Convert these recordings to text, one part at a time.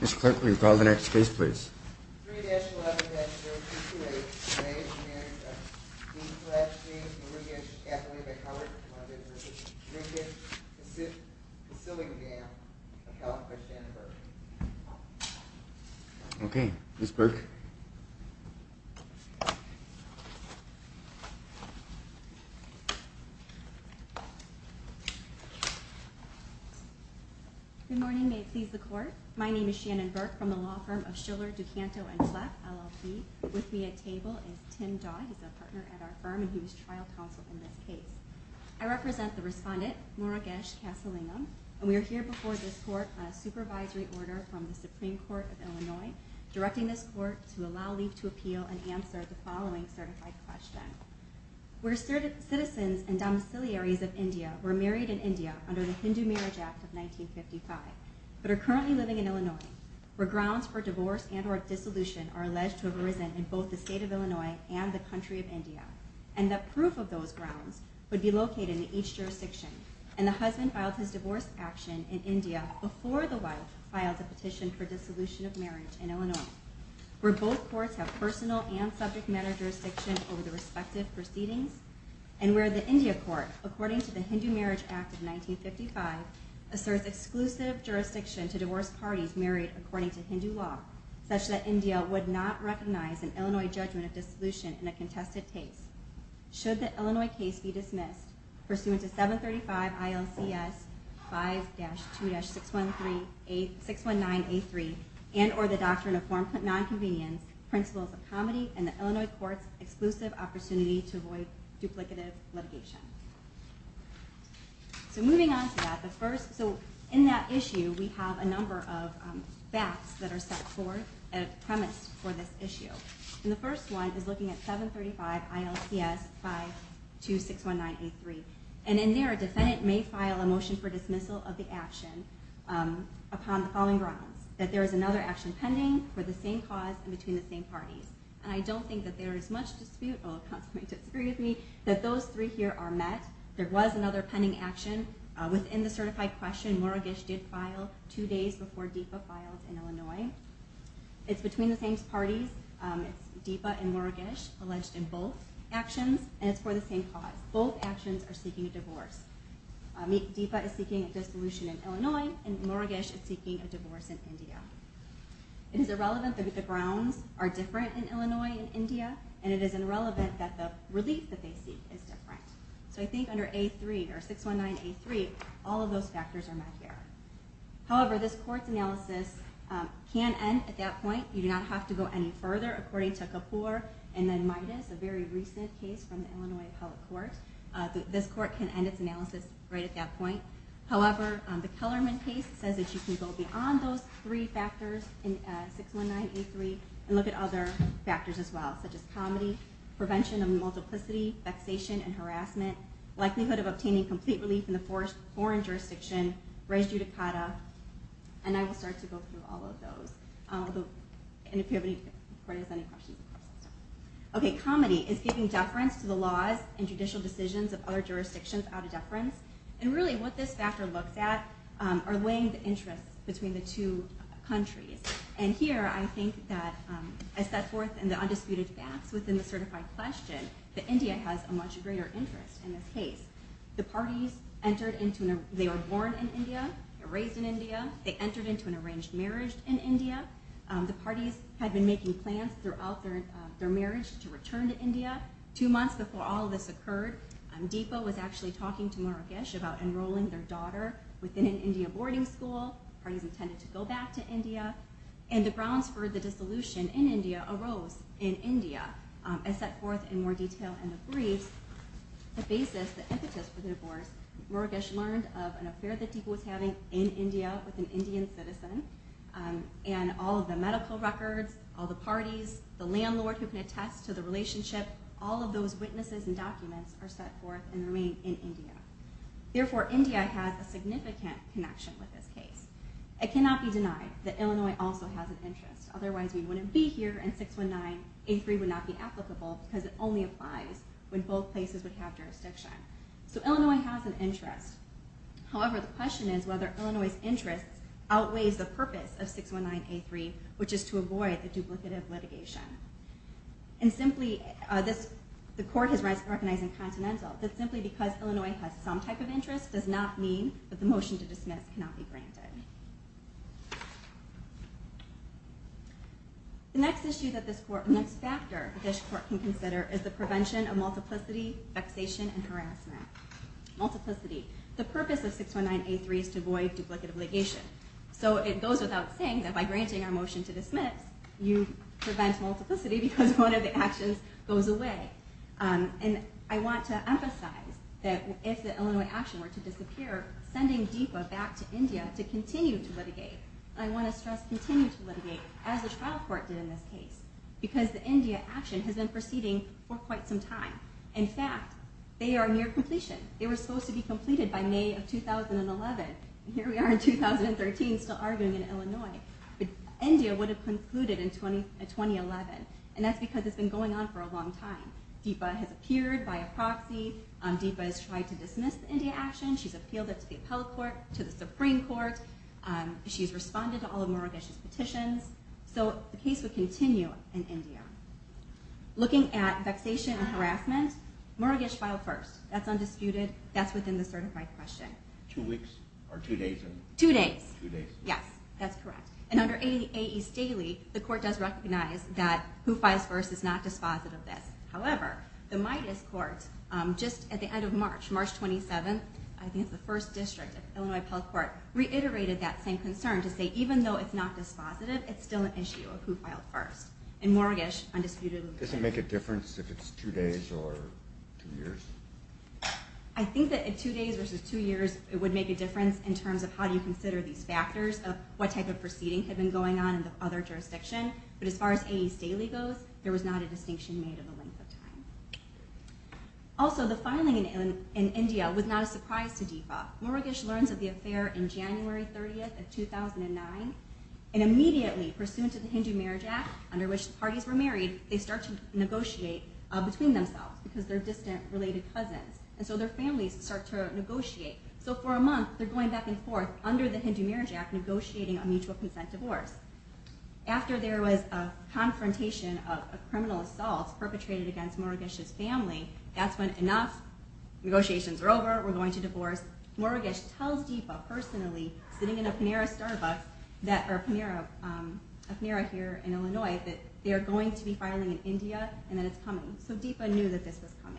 Ms. Clerk, will you call the next case, please? 3-11-0228 Marriage of Murugesh Okay, Ms. Burke Good morning, may it please the court. My name is Shannon Burke from the law firm of Schiller, Ducanto, and Clef, LLP. With me at table is Tim Dodd, he's a partner at our firm and he was trial counsel in this case. I represent the respondent, Murugesh Kasalingam, and we are here before this court on a supervisory order from the Supreme Court of Illinois, directing this court to allow leave to appeal and answer the following certified question. Where citizens and domiciliaries of India were married in India under the Hindu Marriage Act of 1955, but are currently living in Illinois, where grounds for divorce and or dissolution are alleged to have arisen in both the state of Illinois and the country of India, and that proof of those grounds would be located in each jurisdiction, and the husband filed his divorce action in India before the wife filed a petition for dissolution of marriage in Illinois, where both courts have personal and subject matter jurisdiction over the respective proceedings, and where the India court, according to the Hindu Marriage Act of 1955, asserts exclusive jurisdiction to divorce parties married according to Hindu law, such that India would not recognize an Illinois judgment of dissolution in a contested case. Should the Illinois case be dismissed pursuant to 735 ILCS 5-2-619A3 and or the doctrine of nonconvenience, principles of comedy, and the Illinois court's exclusive opportunity to avoid duplicative litigation. So moving on to that, in that issue we have a number of facts that are set forth as premise for this issue. And the first one is looking at 735 ILCS 5-2-619A3. And in there a defendant may file a motion for dismissal of the action upon the following grounds. That there is another action pending, for the same cause, and between the same parties. And I don't think that there is much dispute that those three here are met. There was another pending action. Within the certified question, Murugesh did file two days before Deepa filed in Illinois. It's between the same parties. It's Deepa and Murugesh, alleged in both actions, and it's for the same cause. Both actions are seeking a divorce. Deepa is seeking a dissolution in Illinois, and Murugesh is seeking a divorce in India. It is irrelevant that the grounds are different in Illinois and India, and it is irrelevant that the relief that they seek is different. So I think under 619A3, all of those factors are met here. However, this court's analysis can end at that point. You do not have to go any further according to Kapoor and then Midas, a very recent case from the Illinois appellate court. This court can end its analysis right at that point. However, the Kellerman case says that you can go beyond those three factors in 619A3 and look at other factors as well, such as comedy, prevention of multiplicity, vexation and harassment, likelihood of obtaining complete relief in a foreign jurisdiction, res judicata, and I will start to go through all of those. Okay, comedy is keeping deference to the laws and judicial decisions of other jurisdictions out of deference, and really what this factor looks at are weighing the interests between the two countries. And here I think that I set forth in the undisputed facts within the certified question that India has a much greater interest in this case. The parties entered into, they were born in India, raised in India, they entered into an arranged marriage in India, the parties had been making plans throughout their marriage to return to India. Two months before all of this occurred, Deepa was actually talking to Murugesh about enrolling their daughter within an India boarding school, the parties intended to go back to India, and the grounds for the dissolution in India arose in India. As set forth in more detail in the briefs, the basis, the impetus for the divorce, Murugesh learned of an affair that Deepa was having in India with an Indian citizen, and all of the medical records, all the parties, the landlord who can attest to the relationship, all of those witnesses and documents are set forth and remain in India. Therefore, India has a significant connection with this case. It cannot be denied that Illinois also has an interest, otherwise we wouldn't be here and 619A3 would not be applicable because it only applies when both places would have jurisdiction. So Illinois has an interest, however the question is whether Illinois' interest outweighs the purpose of 619A3, which is to avoid the duplicative litigation. And simply, the court has recognized in Continental that simply because Illinois has some type of interest does not mean that the motion to dismiss cannot be granted. The next issue that this court, the next factor that this court can consider is the prevention of multiplicity, vexation, and harassment. Multiplicity. The purpose of 619A3 is to avoid duplicative litigation. So it goes without saying that by granting a motion to dismiss, you prevent multiplicity because one of the actions goes away. And I want to emphasize that if the Illinois action were to disappear, sending DIPA back to India to continue to litigate, and I want to stress continue to litigate, as the trial court did in this case, because the India action has been proceeding for quite some time. In fact, they are near completion. They were supposed to be completed by May of 2011, and here we are in 2013 still arguing in Illinois. But India would have concluded in 2011, and that's because it's been going on for a long time. DIPA has appeared by a proxy. DIPA has tried to dismiss the India action. She's appealed it to the Appellate Court, to the Supreme Court. She's responded to all of Murugesh's petitions. So the case would continue in India. Looking at vexation and harassment, Murugesh filed first. That's undisputed. That's within the certified question. Two weeks? Or two days? Two days. Yes, that's correct. And under A.E. Staley, the court does recognize that who files first is not dispositive of this. However, the MIDAS court, just at the end of March, March 27, I think it's the first district, Illinois Appellate Court, reiterated that same concern to say even though it's not dispositive, it's still an issue of who filed first. Does it make a difference if it's two days or two years? I think that two days versus two years, it would make a difference in terms of how you consider these factors of what type of proceeding had been going on in the other jurisdiction. But as far as A.E. Staley goes, there was not a distinction made in the length of time. Also, the filing in India was not a surprise to DIPA. Murugesh learns of the affair on January 30, 2009, and immediately, pursuant to the Hindu Marriage Act, under which the parties were married, they start to negotiate between themselves because they're distant, related cousins. And so their families start to negotiate. So for a month, they're going back and forth, under the Hindu Marriage Act, negotiating a mutual consent divorce. After there was a confrontation of criminal assault perpetrated against Murugesh's family, that's when, enough, negotiations are over, we're going to divorce. Murugesh tells DIPA, personally, sitting in a Panera here in Illinois, that they're going to be filing in India, and that it's coming. So DIPA knew that this was coming.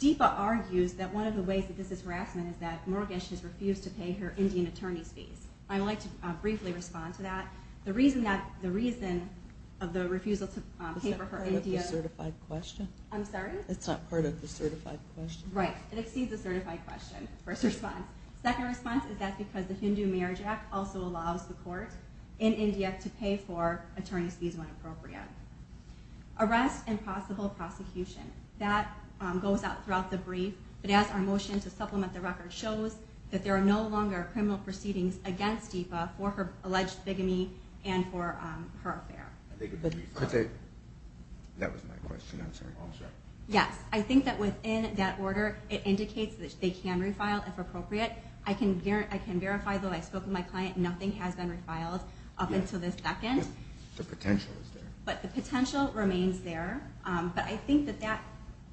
DIPA argues that one of the ways that this is harassment is that Murugesh has refused to pay her Indian attorney's fees. I would like to briefly respond to that. The reason of the refusal to pay for her Indian attorney's fees is because the Hindu Marriage Act also allows the court in India to pay for attorney's fees when appropriate. Arrest and possible prosecution. That goes out throughout the brief. But as our motion to supplement the record shows, that there are no longer criminal proceedings against DIPA for her alleged bigamy and for her affair. That was my question, I'm sorry. Yes. I think that within that order, it indicates that they can refile if appropriate. I can verify, though, I spoke with my client, nothing has been refiled up until this second. The potential is there. But the potential remains there. But I think that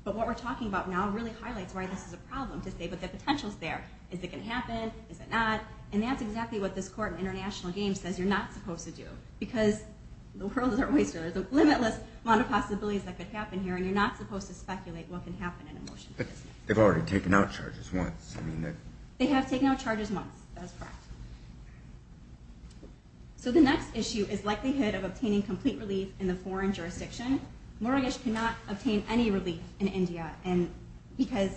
what we're talking about now really highlights why this is a problem to say, but the potential's there. Is it going to happen? Is it not? And that's exactly what this court in International Games says you're not supposed to do. Because the world is our oyster. There's a limitless amount of possibilities that could happen here, and you're not supposed to speculate what can happen in a motion. But they've already taken out charges once. They have taken out charges once, that's correct. So the next issue is likelihood of obtaining complete relief in the foreign jurisdiction. Mortgage cannot obtain any relief in India, because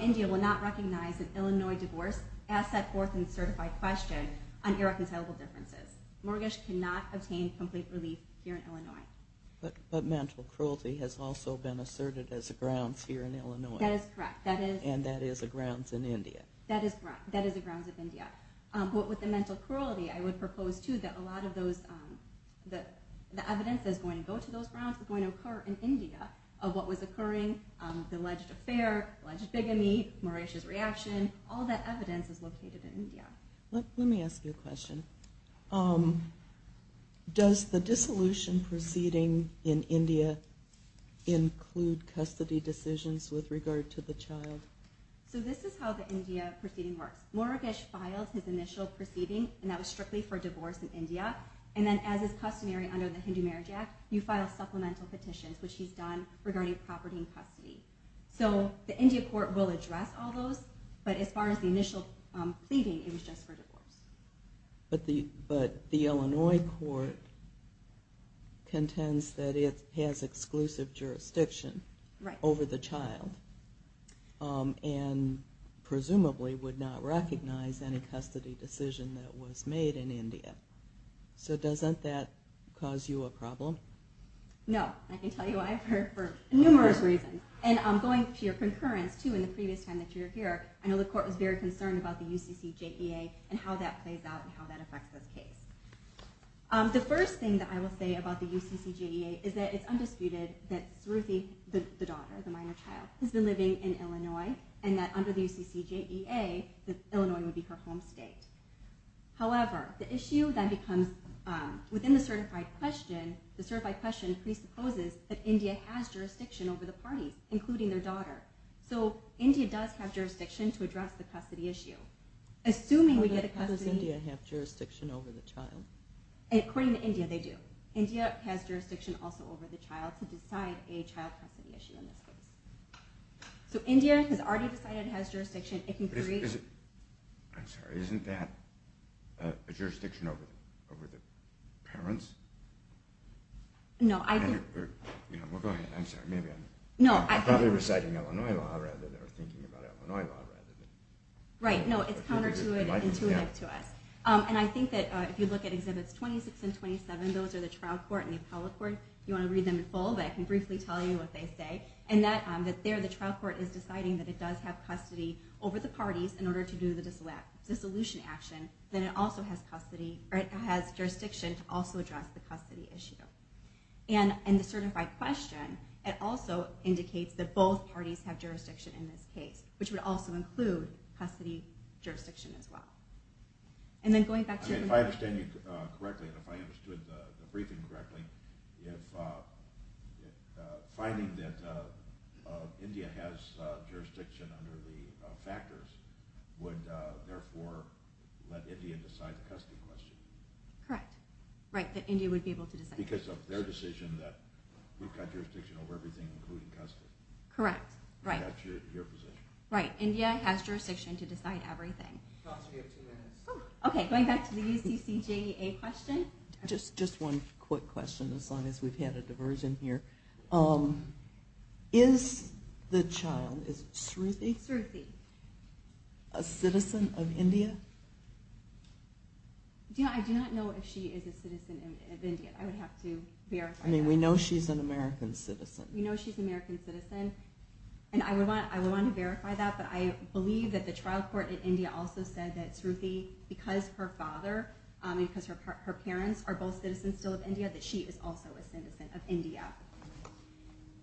India will not recognize an Illinois divorce as set forth in the certified question on irreconcilable differences. Mortgage cannot obtain complete relief here in Illinois. But mental cruelty has also been asserted as a grounds here in Illinois. That is correct. And that is a grounds in India. That is a grounds of India. But with the mental cruelty, I would propose, too, that a lot of the evidence that's going to go to those grounds is going to occur in India of what was occurring, the alleged affair, alleged bigamy, Marisha's reaction. All that evidence is located in India. Let me ask you a question. Does the dissolution proceeding in India include custody decisions with regard to the child? So this is how the India proceeding works. Moragesh filed his initial proceeding, and that was strictly for divorce in India. And then as is customary under the Hindu Marriage Act, you file supplemental petitions, which he's done, regarding property and custody. So the India court will address all those. But as far as the initial pleading, it was just for divorce. But the Illinois court contends that it has exclusive jurisdiction over the child, and presumably would not recognize any custody decision that was made in India. So doesn't that cause you a problem? No. I can tell you why, for numerous reasons. And going to your concurrence, too, in the previous time that you were here, I know the court was very concerned about the UCCJEA and how that plays out and how that affects this case. The first thing that I will say about the UCCJEA is that it's undisputed that Saruthi, the daughter, the minor child, has been living in Illinois, and that under the UCCJEA, Illinois would be her home state. However, the issue then becomes, within the certified question, the certified question presupposes that India has jurisdiction over the parties, including their daughter. So India does have jurisdiction to address the custody issue. How does India have jurisdiction over the child? According to India, they do. India has jurisdiction also over the child to decide a child custody issue in this case. So India has already decided it has jurisdiction. I'm sorry. Isn't that a jurisdiction over the parents? No. Well, go ahead. I'm sorry. I'm probably reciting Illinois law rather than thinking about Illinois law. Right. No, it's counterintuitive to us. And I think that if you look at Exhibits 26 and 27, those are the trial court and the appellate court. If you want to read them in full, I can briefly tell you what they say. And that there the trial court is deciding that it does have custody over the parties in order to do the dissolution action, then it also has jurisdiction to also address the custody issue. And in the certified question, it also indicates that both parties have jurisdiction in this case, which would also include custody jurisdiction as well. If I understand you correctly and if I understood the briefing correctly, finding that India has jurisdiction under the factors would therefore let India decide the custody question. Correct. Right, that India would be able to decide. Because of their decision that we've got jurisdiction over everything, including custody. Correct. That's your position. Right. India has jurisdiction to decide everything. OK, going back to the UCCJEA question. Just one quick question, as long as we've had a diversion here. Is the child, is it Sruthi? Sruthi. A citizen of India? I do not know if she is a citizen of India. I would have to verify that. I mean, we know she's an American citizen. We know she's an American citizen. And I would want to verify that, but I believe that the trial court in India also said that Sruthi, because her father and because her parents are both citizens still of India, that she is also a citizen of India.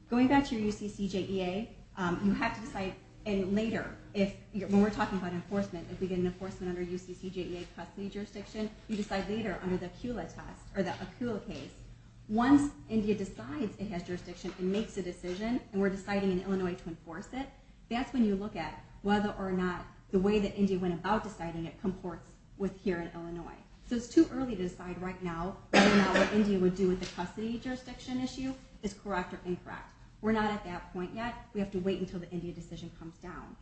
Going back to your UCCJEA, you have to decide, and later, when we're talking about enforcement, if we get an enforcement under UCCJEA custody jurisdiction, you decide later under the Akula test or the Akula case. Once India decides it has jurisdiction and makes a decision, and we're deciding in Illinois to enforce it, that's when you look at whether or not the way that India went about deciding it comports with here in Illinois. So it's too early to decide right now whether or not what India would do with the custody jurisdiction issue is correct or incorrect. We're not at that point yet. We have to wait until the India decision comes down.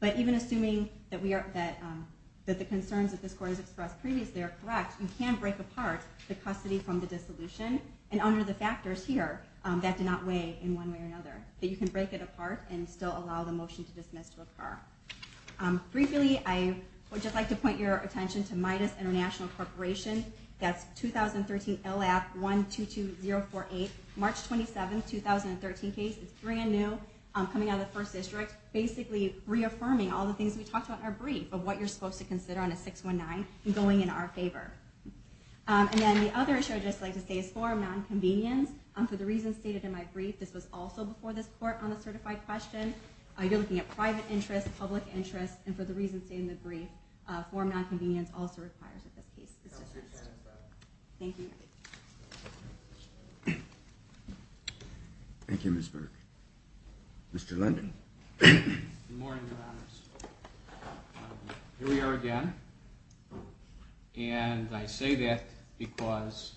But even assuming that the concerns that this court has expressed previously are correct, you can break apart the custody from the dissolution. And under the factors here, that did not weigh in one way or another. But you can break it apart and still allow the motion to dismiss to occur. Briefly, I would just like to point your attention to MIDAS International Corporation. That's 2013 LF 122048, March 27, 2013 case. It's brand new, coming out of the first district, basically reaffirming all the things we talked about in our brief of what you're supposed to consider on a 619 and going in our favor. And then the other issue I'd just like to say is form nonconvenience. For the reasons stated in my brief, this was also before this court on the certified question. You're looking at private interests, public interests, and for the reasons stated in the brief, form nonconvenience also requires that this case is dismissed. Thank you. Thank you, Ms. Burke. Mr. London. Good morning, Your Honors. Here we are again. And I say that because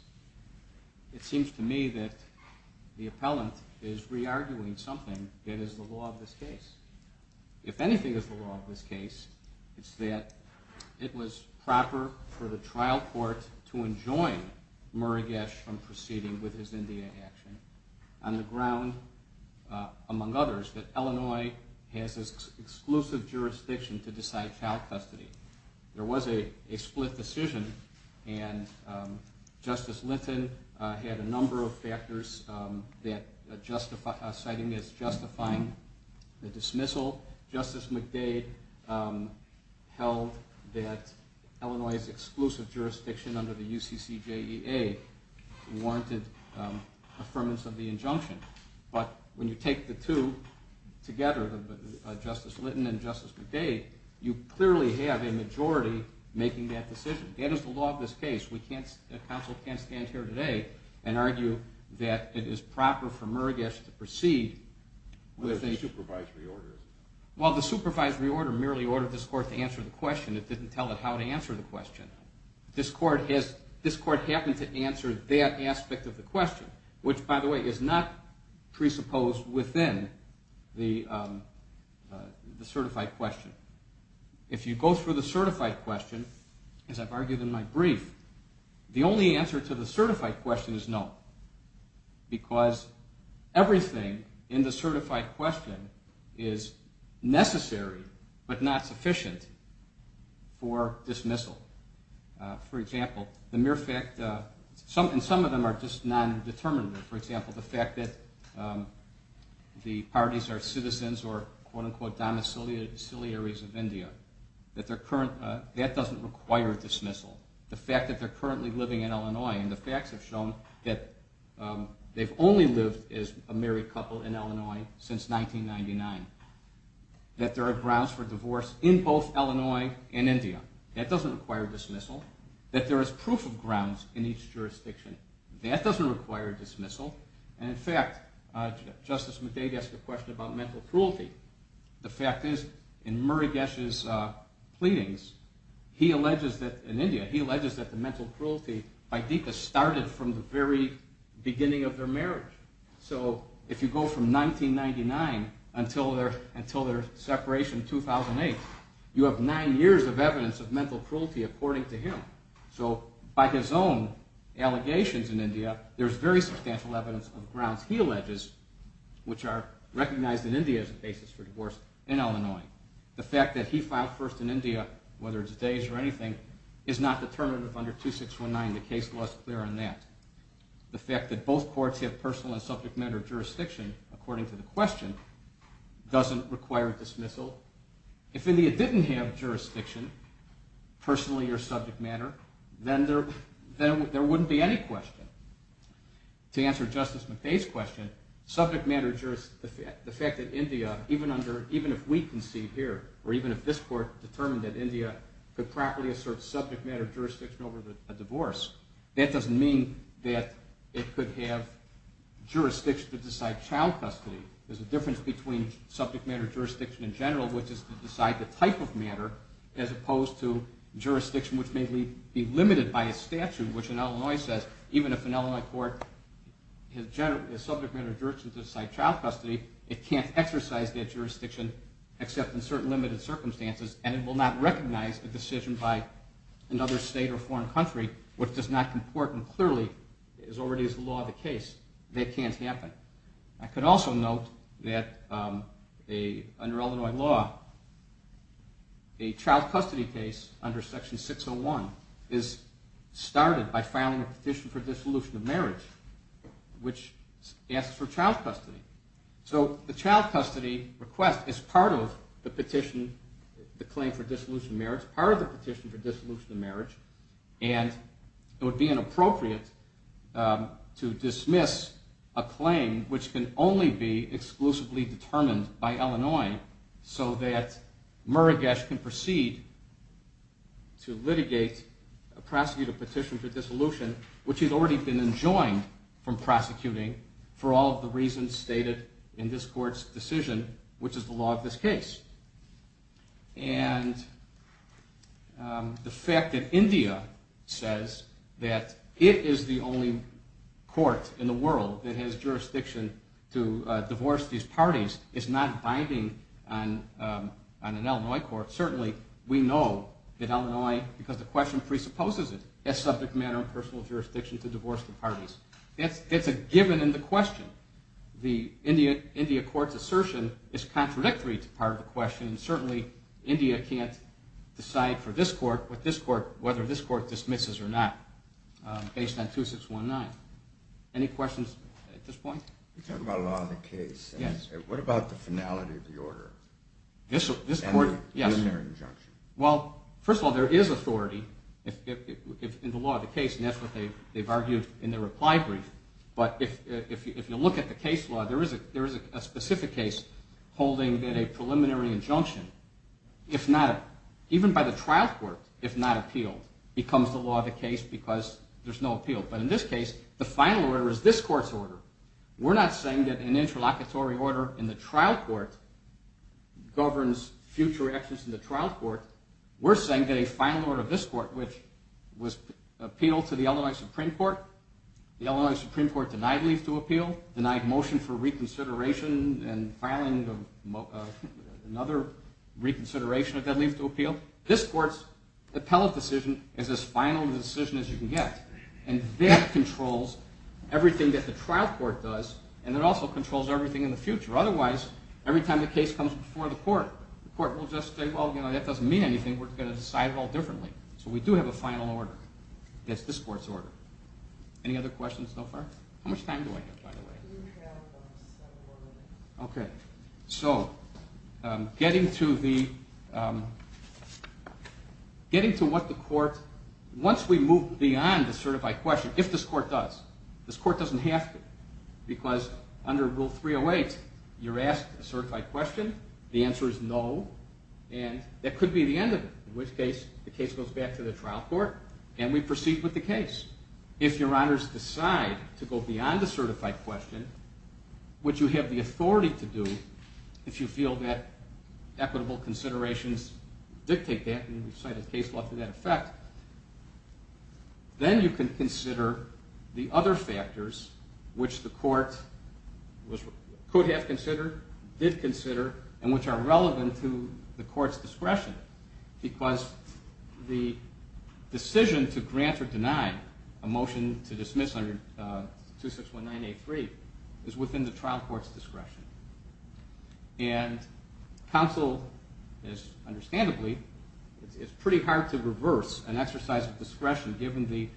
it seems to me that the appellant is re-arguing something that is the law of this case. If anything is the law of this case, it's that it was proper for the trial court to enjoin Murray Gesch from proceeding with his India action on the ground, among others, that Illinois has exclusive jurisdiction to decide child custody. There was a split decision, and Justice Linton had a number of factors citing as justifying the dismissal. Justice McDade held that Illinois' exclusive jurisdiction under the UCCJEA warranted affirmance of the injunction. But when you take the two together, Justice Linton and Justice McDade, you clearly have a majority making that decision. That is the law of this case. Counsel can't stand here today and argue that it is proper for Murray Gesch to proceed. Well, the supervisory order merely ordered this court to answer the question. It didn't tell it how to answer the question. This court happened to answer that aspect of the question, which, by the way, is not presupposed within the certified question. If you go through the certified question, as I've argued in my brief, the only answer to the certified question is no, because everything in the certified question is necessary but not sufficient for dismissal. For example, the mere fact that some of them are just nondeterminant. For example, the fact that the parties are citizens or, quote-unquote, domiciliaries of India. That doesn't require dismissal. The fact that they're currently living in Illinois, and the facts have shown that they've only lived as a married couple in Illinois since 1999. That there are grounds for divorce in both Illinois and India. That doesn't require dismissal. That there is proof of grounds in each jurisdiction. That doesn't require dismissal. And, in fact, Justice McDade asked a question about mental cruelty. The fact is, in Murugesh's pleadings, he alleges that, in India, he alleges that the mental cruelty by Deepa started from the very beginning of their marriage. So if you go from 1999 until their separation in 2008, you have nine years of evidence of mental cruelty according to him. So, by his own allegations in India, there's very substantial evidence of grounds he alleges, which are recognized in India as a basis for divorce, in Illinois. The fact that he filed first in India, whether it's days or anything, is not determinative under 2619. The case law is clear on that. The fact that both courts have personal and subject matter jurisdiction, according to the question, doesn't require dismissal. So, if India didn't have jurisdiction, personally or subject matter, then there wouldn't be any question. To answer Justice McDade's question, the fact that India, even if we concede here, or even if this court determined that India could properly assert subject matter jurisdiction over a divorce, that doesn't mean that it could have jurisdiction to decide child custody. There's a difference between subject matter jurisdiction in general, which is to decide the type of matter, as opposed to jurisdiction which may be limited by a statute, which in Illinois says, even if an Illinois court has subject matter jurisdiction to decide child custody, it can't exercise that jurisdiction, except in certain limited circumstances, and it will not recognize a decision by another state or foreign country, which does not comport clearly, as already is the law of the case. That can't happen. I could also note that under Illinois law, a child custody case under Section 601 is started by filing a petition for dissolution of marriage, which asks for child custody. So, the child custody request is part of the petition, the claim for dissolution of marriage, part of the petition for dissolution of marriage, and it would be inappropriate to dismiss a claim which can only be exclusively determined by Illinois, so that Murigesh can proceed to litigate a prosecutive petition for dissolution, which he's already been enjoined from prosecuting for all of the reasons stated in this court's decision, which is the law of this case. And the fact that India says that it is the only court in the world that has jurisdiction to divorce these parties is not binding on an Illinois court. Certainly, we know that Illinois, because the question presupposes it, has subject matter and personal jurisdiction to divorce the parties. It's a given in the question. The India court's assertion is contradictory to part of the question. Certainly, India can't decide for this court whether this court dismisses or not, based on 2619. Any questions at this point? You talked about the law of the case. Yes. What about the finality of the order? This court, yes. And their injunction. Well, first of all, there is authority in the law of the case, and that's what they've argued in their reply brief. But if you look at the case law, there is a specific case holding that a preliminary injunction, even by the trial court if not appealed, becomes the law of the case because there's no appeal. But in this case, the final order is this court's order. We're not saying that an interlocutory order in the trial court governs future actions in the trial court. We're saying that a final order of this court, which was appealed to the Illinois Supreme Court, the Illinois Supreme Court denied leave to appeal, denied motion for reconsideration and filing another reconsideration of that leave to appeal, this court's appellate decision is as final a decision as you can get. And that controls everything that the trial court does, and it also controls everything in the future. Otherwise, every time a case comes before the court, the court will just say, well, that doesn't mean anything. We're going to decide it all differently. So we do have a final order. That's this court's order. Any other questions so far? How much time do I have, by the way? You have several minutes. Okay. So getting to what the court, once we move beyond the certified question, if this court does, this court doesn't have to because under Rule 308, you're asked a certified question. The answer is no. And that could be the end of it, in which case the case goes back to the trial court, and we proceed with the case. If your honors decide to go beyond the certified question, which you have the authority to do, if you feel that equitable considerations dictate that and you cite a case law to that effect, then you can consider the other factors which the court could have considered, did consider, and which are relevant to the court's discretion because the decision to grant or deny a motion to dismiss under 2619A3 is within the trial court's discretion. And counsel, understandably, it's pretty hard to reverse an exercise of discretion, given the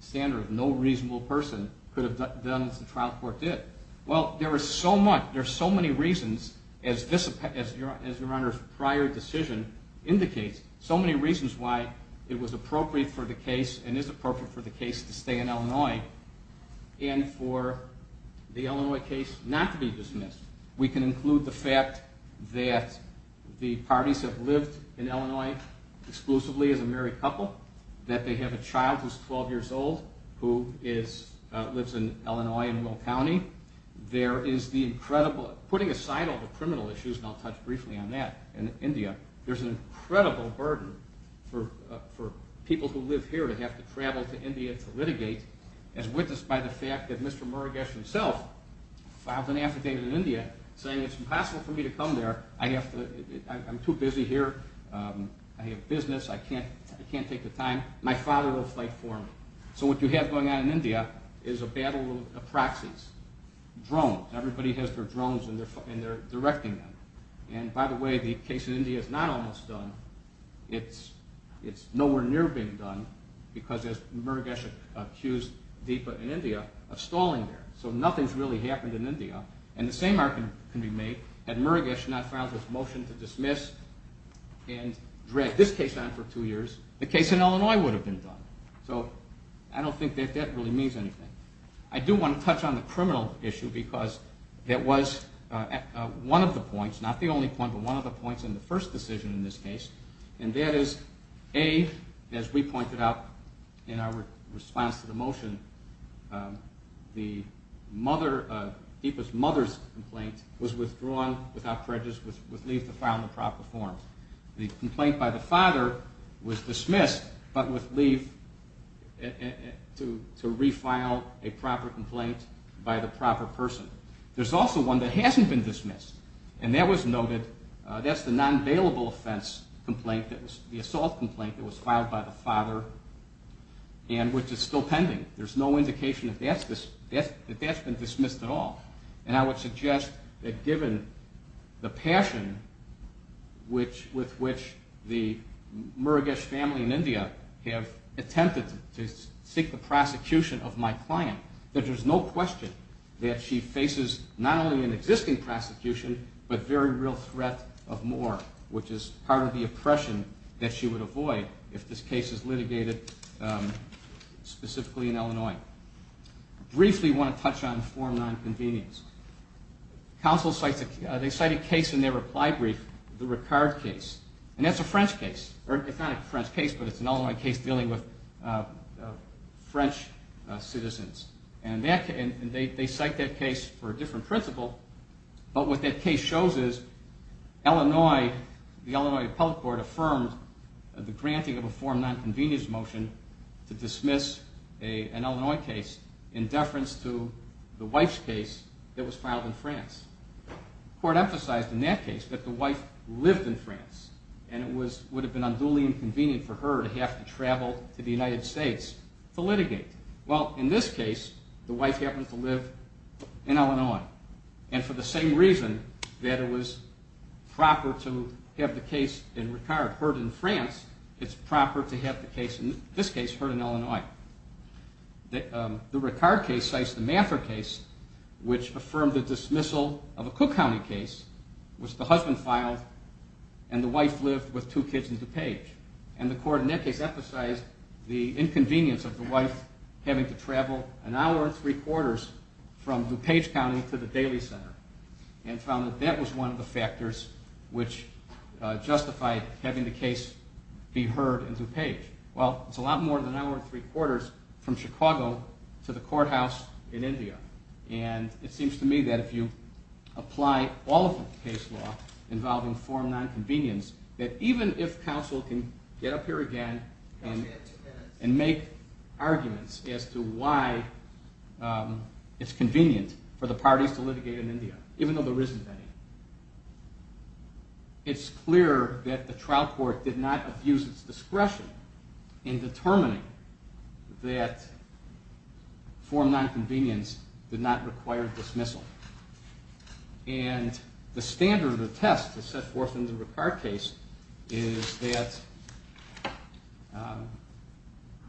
standard of no reasonable person could have done as the trial court did. Well, there are so many reasons, as your honors' prior decision indicates, so many reasons why it was appropriate for the case and is appropriate for the case to stay in Illinois and for the Illinois case not to be dismissed. We can include the fact that the parties have lived in Illinois exclusively as a married couple, that they have a child who's 12 years old who lives in Illinois in Will County. Putting aside all the criminal issues, and I'll touch briefly on that, in India, there's an incredible burden for people who live here to have to travel to India to litigate, as witnessed by the fact that Mr. Murugesh himself filed an affidavit in India saying, it's impossible for me to come there, I'm too busy here, I have business, I can't take the time, my father will fight for me. So what you have going on in India is a battle of proxies, drones, everybody has their drones and they're directing them. And by the way, the case in India is not almost done, it's nowhere near being done, because as Murugesh accused Deepa in India of stalling there. So nothing's really happened in India. And the same argument can be made, had Murugesh not filed his motion to dismiss and dragged this case on for two years, the case in Illinois would have been done. So I don't think that that really means anything. I do want to touch on the criminal issue because that was one of the points, not the only point, but one of the points in the first decision in this case, and that is, A, as we pointed out in our response to the motion, Deepa's mother's complaint was withdrawn without prejudice, with leave to file in the proper form. The complaint by the father was dismissed, but with leave to refile a proper complaint by the proper person. There's also one that hasn't been dismissed, and that was noted, that's the non-bailable offense complaint, the assault complaint that was filed by the father, and which is still pending. There's no indication that that's been dismissed at all. And I would suggest that given the passion with which the Murugesh family in India have attempted to seek the prosecution of my client, that there's no question that she faces not only an existing prosecution, but very real threat of more, which is part of the oppression that she would avoid if this case is litigated specifically in Illinois. Briefly, I want to touch on form non-convenience. Counsel cited a case in their reply brief, the Ricard case, and that's a French case. It's not a French case, but it's an Illinois case dealing with French citizens. And they cite that case for a different principle, but what that case shows is Illinois, the Illinois public court affirmed the granting of a form non-convenience motion to dismiss an Illinois case in deference to the wife's case that was filed in France. The court emphasized in that case that the wife lived in France, and it would have been unduly inconvenient for her to have to travel to the United States to litigate. And for the same reason that it was proper to have the case in Ricard heard in France, it's proper to have the case, in this case, heard in Illinois. The Ricard case cites the Mather case, which affirmed the dismissal of a Cook County case, which the husband filed and the wife lived with two kids in DuPage. And the court in that case emphasized the inconvenience of the wife having to travel an hour and three quarters from DuPage County to the Daly Center and found that that was one of the factors which justified having the case be heard in DuPage. Well, it's a lot more than an hour and three quarters from Chicago to the courthouse in India. And it seems to me that if you apply all of the case law involving form non-convenience, that even if counsel can get up here again and make arguments as to why it's convenient for the parties to litigate in India, even though there isn't any, it's clear that the trial court did not abuse its discretion in determining that form non-convenience did not require dismissal. And the standard of the test to set forth in the Ricard case is that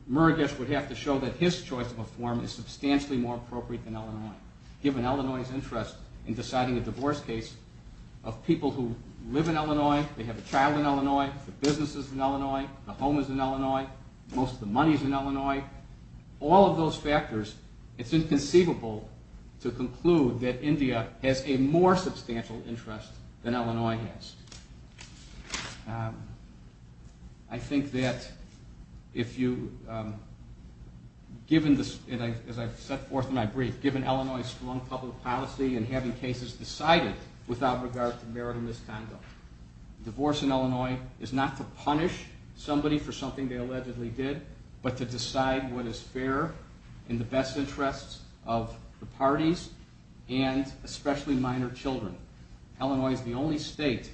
Murugesh would have to show that his choice of a form is substantially more appropriate than Illinois, given Illinois' interest in deciding a divorce case of people who live in Illinois, they have a child in Illinois, the business is in Illinois, the home is in Illinois, most of the money is in Illinois. All of those factors, it's inconceivable to conclude that India has a more substantial interest than Illinois has. I think that if you, as I set forth in my brief, given Illinois' strong public policy in having cases decided without regard to merit or misconduct, divorce in Illinois is not to punish somebody for something they allegedly did, but to decide what is fair in the best interests of the parties and especially minor children. Illinois is the only state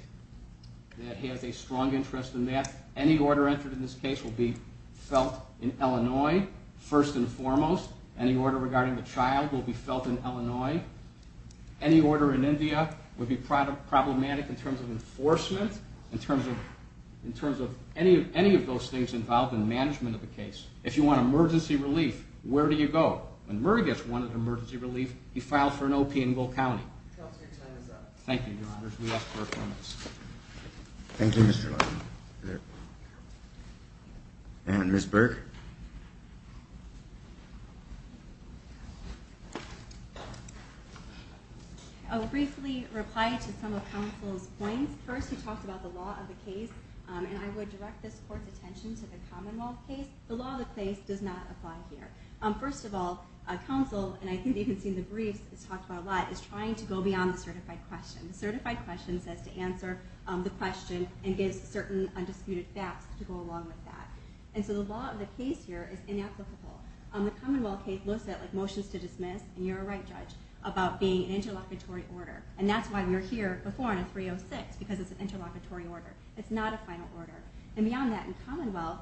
that has a strong interest in that. Any order entered in this case will be felt in Illinois, first and foremost. Any order regarding the child will be felt in Illinois. Any order in India would be problematic in terms of enforcement, in terms of any of those things involved in management of the case. If you want emergency relief, where do you go? When Murray gets one of the emergency relief, he filed for an O.P. in Gould County. Thank you, Your Honors. We ask for your comments. Thank you, Mr. Levin. And Ms. Burke? I will briefly reply to some of counsel's points. First, he talked about the law of the case, and I would direct this Court's attention to the Commonwealth case. The law of the case does not apply here. First of all, counsel, and I think you can see in the briefs, it's talked about a lot, is trying to go beyond the certified question. The certified question says to answer the question and gives certain undisputed facts to go along with that. And so the law of the case here is inapplicable. The Commonwealth case looks at motions to dismiss, and you're a right judge, about being an interlocutory order. And that's why we're here before on a 306, because it's an interlocutory order. It's not a final order. And beyond that, in Commonwealth,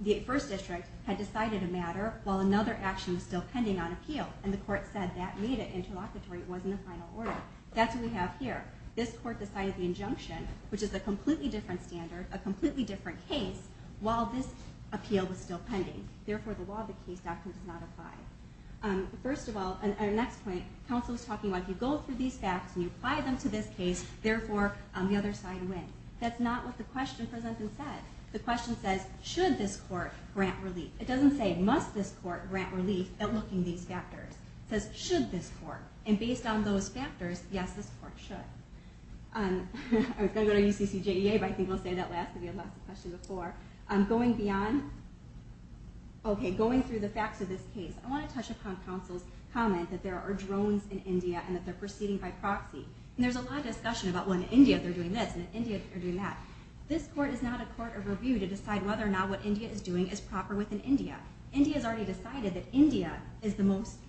the 1st District had decided a matter while another action was still pending on appeal, and the Court said that made it interlocutory, it wasn't a final order. That's what we have here. This Court decided the injunction, which is a completely different standard, a completely different case, while this appeal was still pending. Therefore, the law of the case does not apply. First of all, and our next point, Council was talking about if you go through these facts and you apply them to this case, therefore, the other side wins. That's not what the question presented and said. The question says, should this Court grant relief? It doesn't say, must this Court grant relief at looking at these factors. It says, should this Court? And based on those factors, yes, this Court should. I was going to go to UCCJEA, but I think we'll save that last because we had lots of questions before. Going beyond... Okay, going through the facts of this case, I want to touch upon Council's comment that there are drones in India and that they're proceeding by proxy. And there's a lot of discussion about, well, in India, they're doing this, and in India, they're doing that. This Court is not a court of review to decide whether or not what India is doing is proper within India. India has already decided that India is the most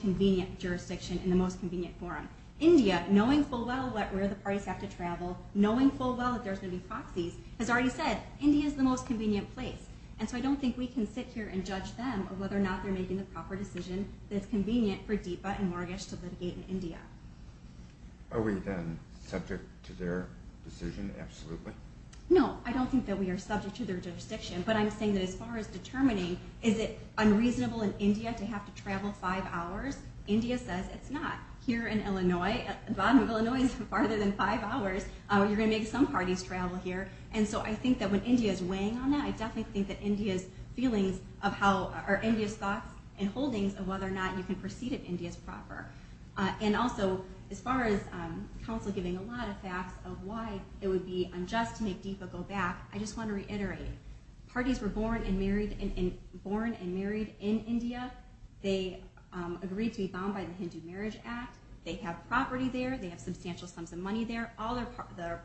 convenient jurisdiction and the most convenient forum. India, knowing full well where the parties have to travel, knowing full well that there's going to be proxies, has already said, India is the most convenient place. And so I don't think we can sit here and judge them on whether or not they're making the proper decision that's convenient for DIPA and mortgage to litigate in India. Are we then subject to their decision, absolutely? No, I don't think that we are subject to their jurisdiction. But I'm saying that as far as determining, is it unreasonable in India to have to travel five hours? India says it's not. Here in Illinois, the bottom of Illinois is farther than five hours. You're going to make some parties travel here. And so I think that when India is weighing on that, I definitely think that India's thoughts and holdings of whether or not you can proceed in India is proper. And also, as far as counsel giving a lot of facts of why it would be unjust to make DIPA go back, I just want to reiterate, parties were born and married in India. They agreed to be bound by the Hindu Marriage Act. They have property there. They have substantial sums of money there. All their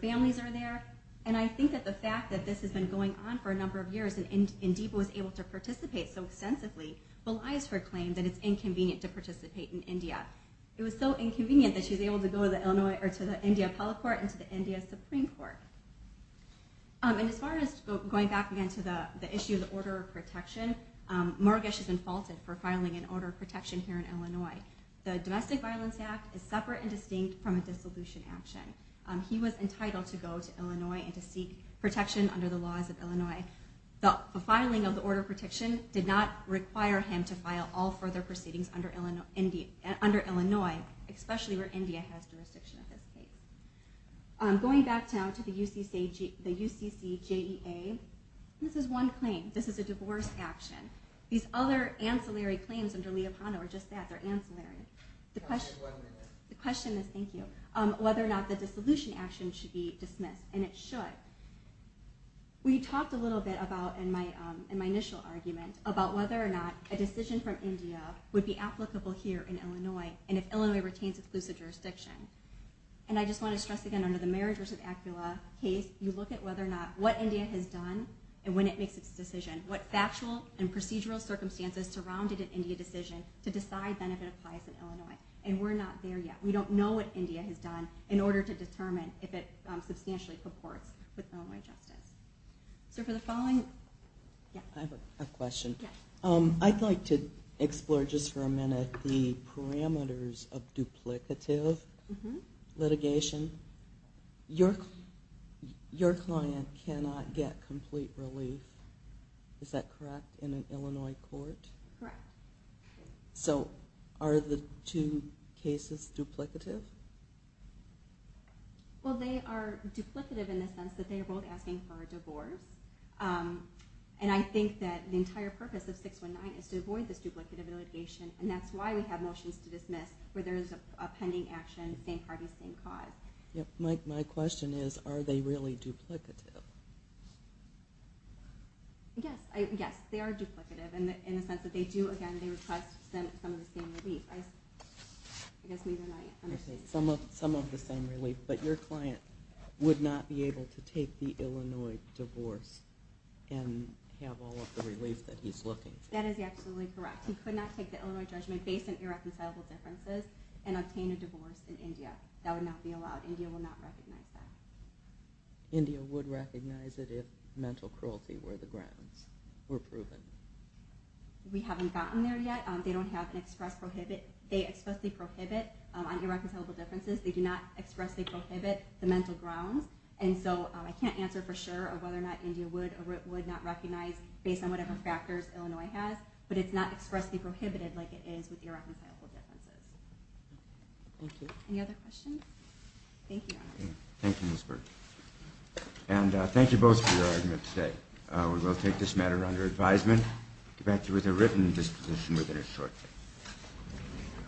families are there. And I think that the fact that this has been going on for a number of years, and DIPA was able to participate so extensively, belies her claim that it's inconvenient to participate in India. It was so inconvenient that she was able to go to the India Appellate Court and to the India Supreme Court. And as far as going back, again, to the issue of the order of protection, Mogesh has been faulted for filing an order of protection here in Illinois. The Domestic Violence Act is separate and distinct from a dissolution action. He was entitled to go to Illinois and to seek protection under the laws of Illinois. The filing of the order of protection did not require him to file all further proceedings under Illinois, especially where India has jurisdiction of his case. Going back now to the UCCJEA, this is one claim. This is a divorce action. These other ancillary claims under Liapano are just that. They're ancillary. The question is, thank you, whether or not the dissolution action should be dismissed. And it should. We talked a little bit about, in my initial argument, about whether or not a decision from India would be applicable here in Illinois, and if Illinois retains exclusive jurisdiction. And I just want to stress again, under the marriage versus ACULA case, you look at whether or not what India has done and when it makes its decision, what factual and procedural circumstances surrounded an India decision to decide then if it applies in Illinois. And we're not there yet. We don't know what India has done in order to determine if it substantially purports with Illinois justice. So for the following, yeah. I have a question. I'd like to explore just for a minute the parameters of duplicative litigation. Your client cannot get complete relief. Is that correct, in an Illinois court? Correct. So are the two cases duplicative? Well, they are duplicative in the sense that they are both asking for a divorce. And I think that the entire purpose of 619 is to avoid this duplicative litigation. And that's why we have motions to dismiss, where there is a pending action, same parties, same cause. My question is, are they really duplicative? Yes. Yes, they are duplicative in the sense that they do, again, request some of the same relief. Some of the same relief. But your client would not be able to take the Illinois divorce and have all of the relief that he's looking for. That is absolutely correct. He could not take the Illinois judgment based on irreconcilable differences and obtain a divorce in India. That would not be allowed. India will not recognize that. India would recognize it if mental cruelty were proven. We haven't gotten there yet. They expressly prohibit on irreconcilable differences. They do not expressly prohibit the mental grounds. And so I can't answer for sure whether or not India would or would not recognize, based on whatever factors Illinois has. But it's not expressly prohibited like it is with irreconcilable differences. Thank you. Any other questions? Thank you. Thank you, Ms. Burke. And thank you both for your argument today. We will take this matter under advisement. Get back to you with a written disposition within a short time.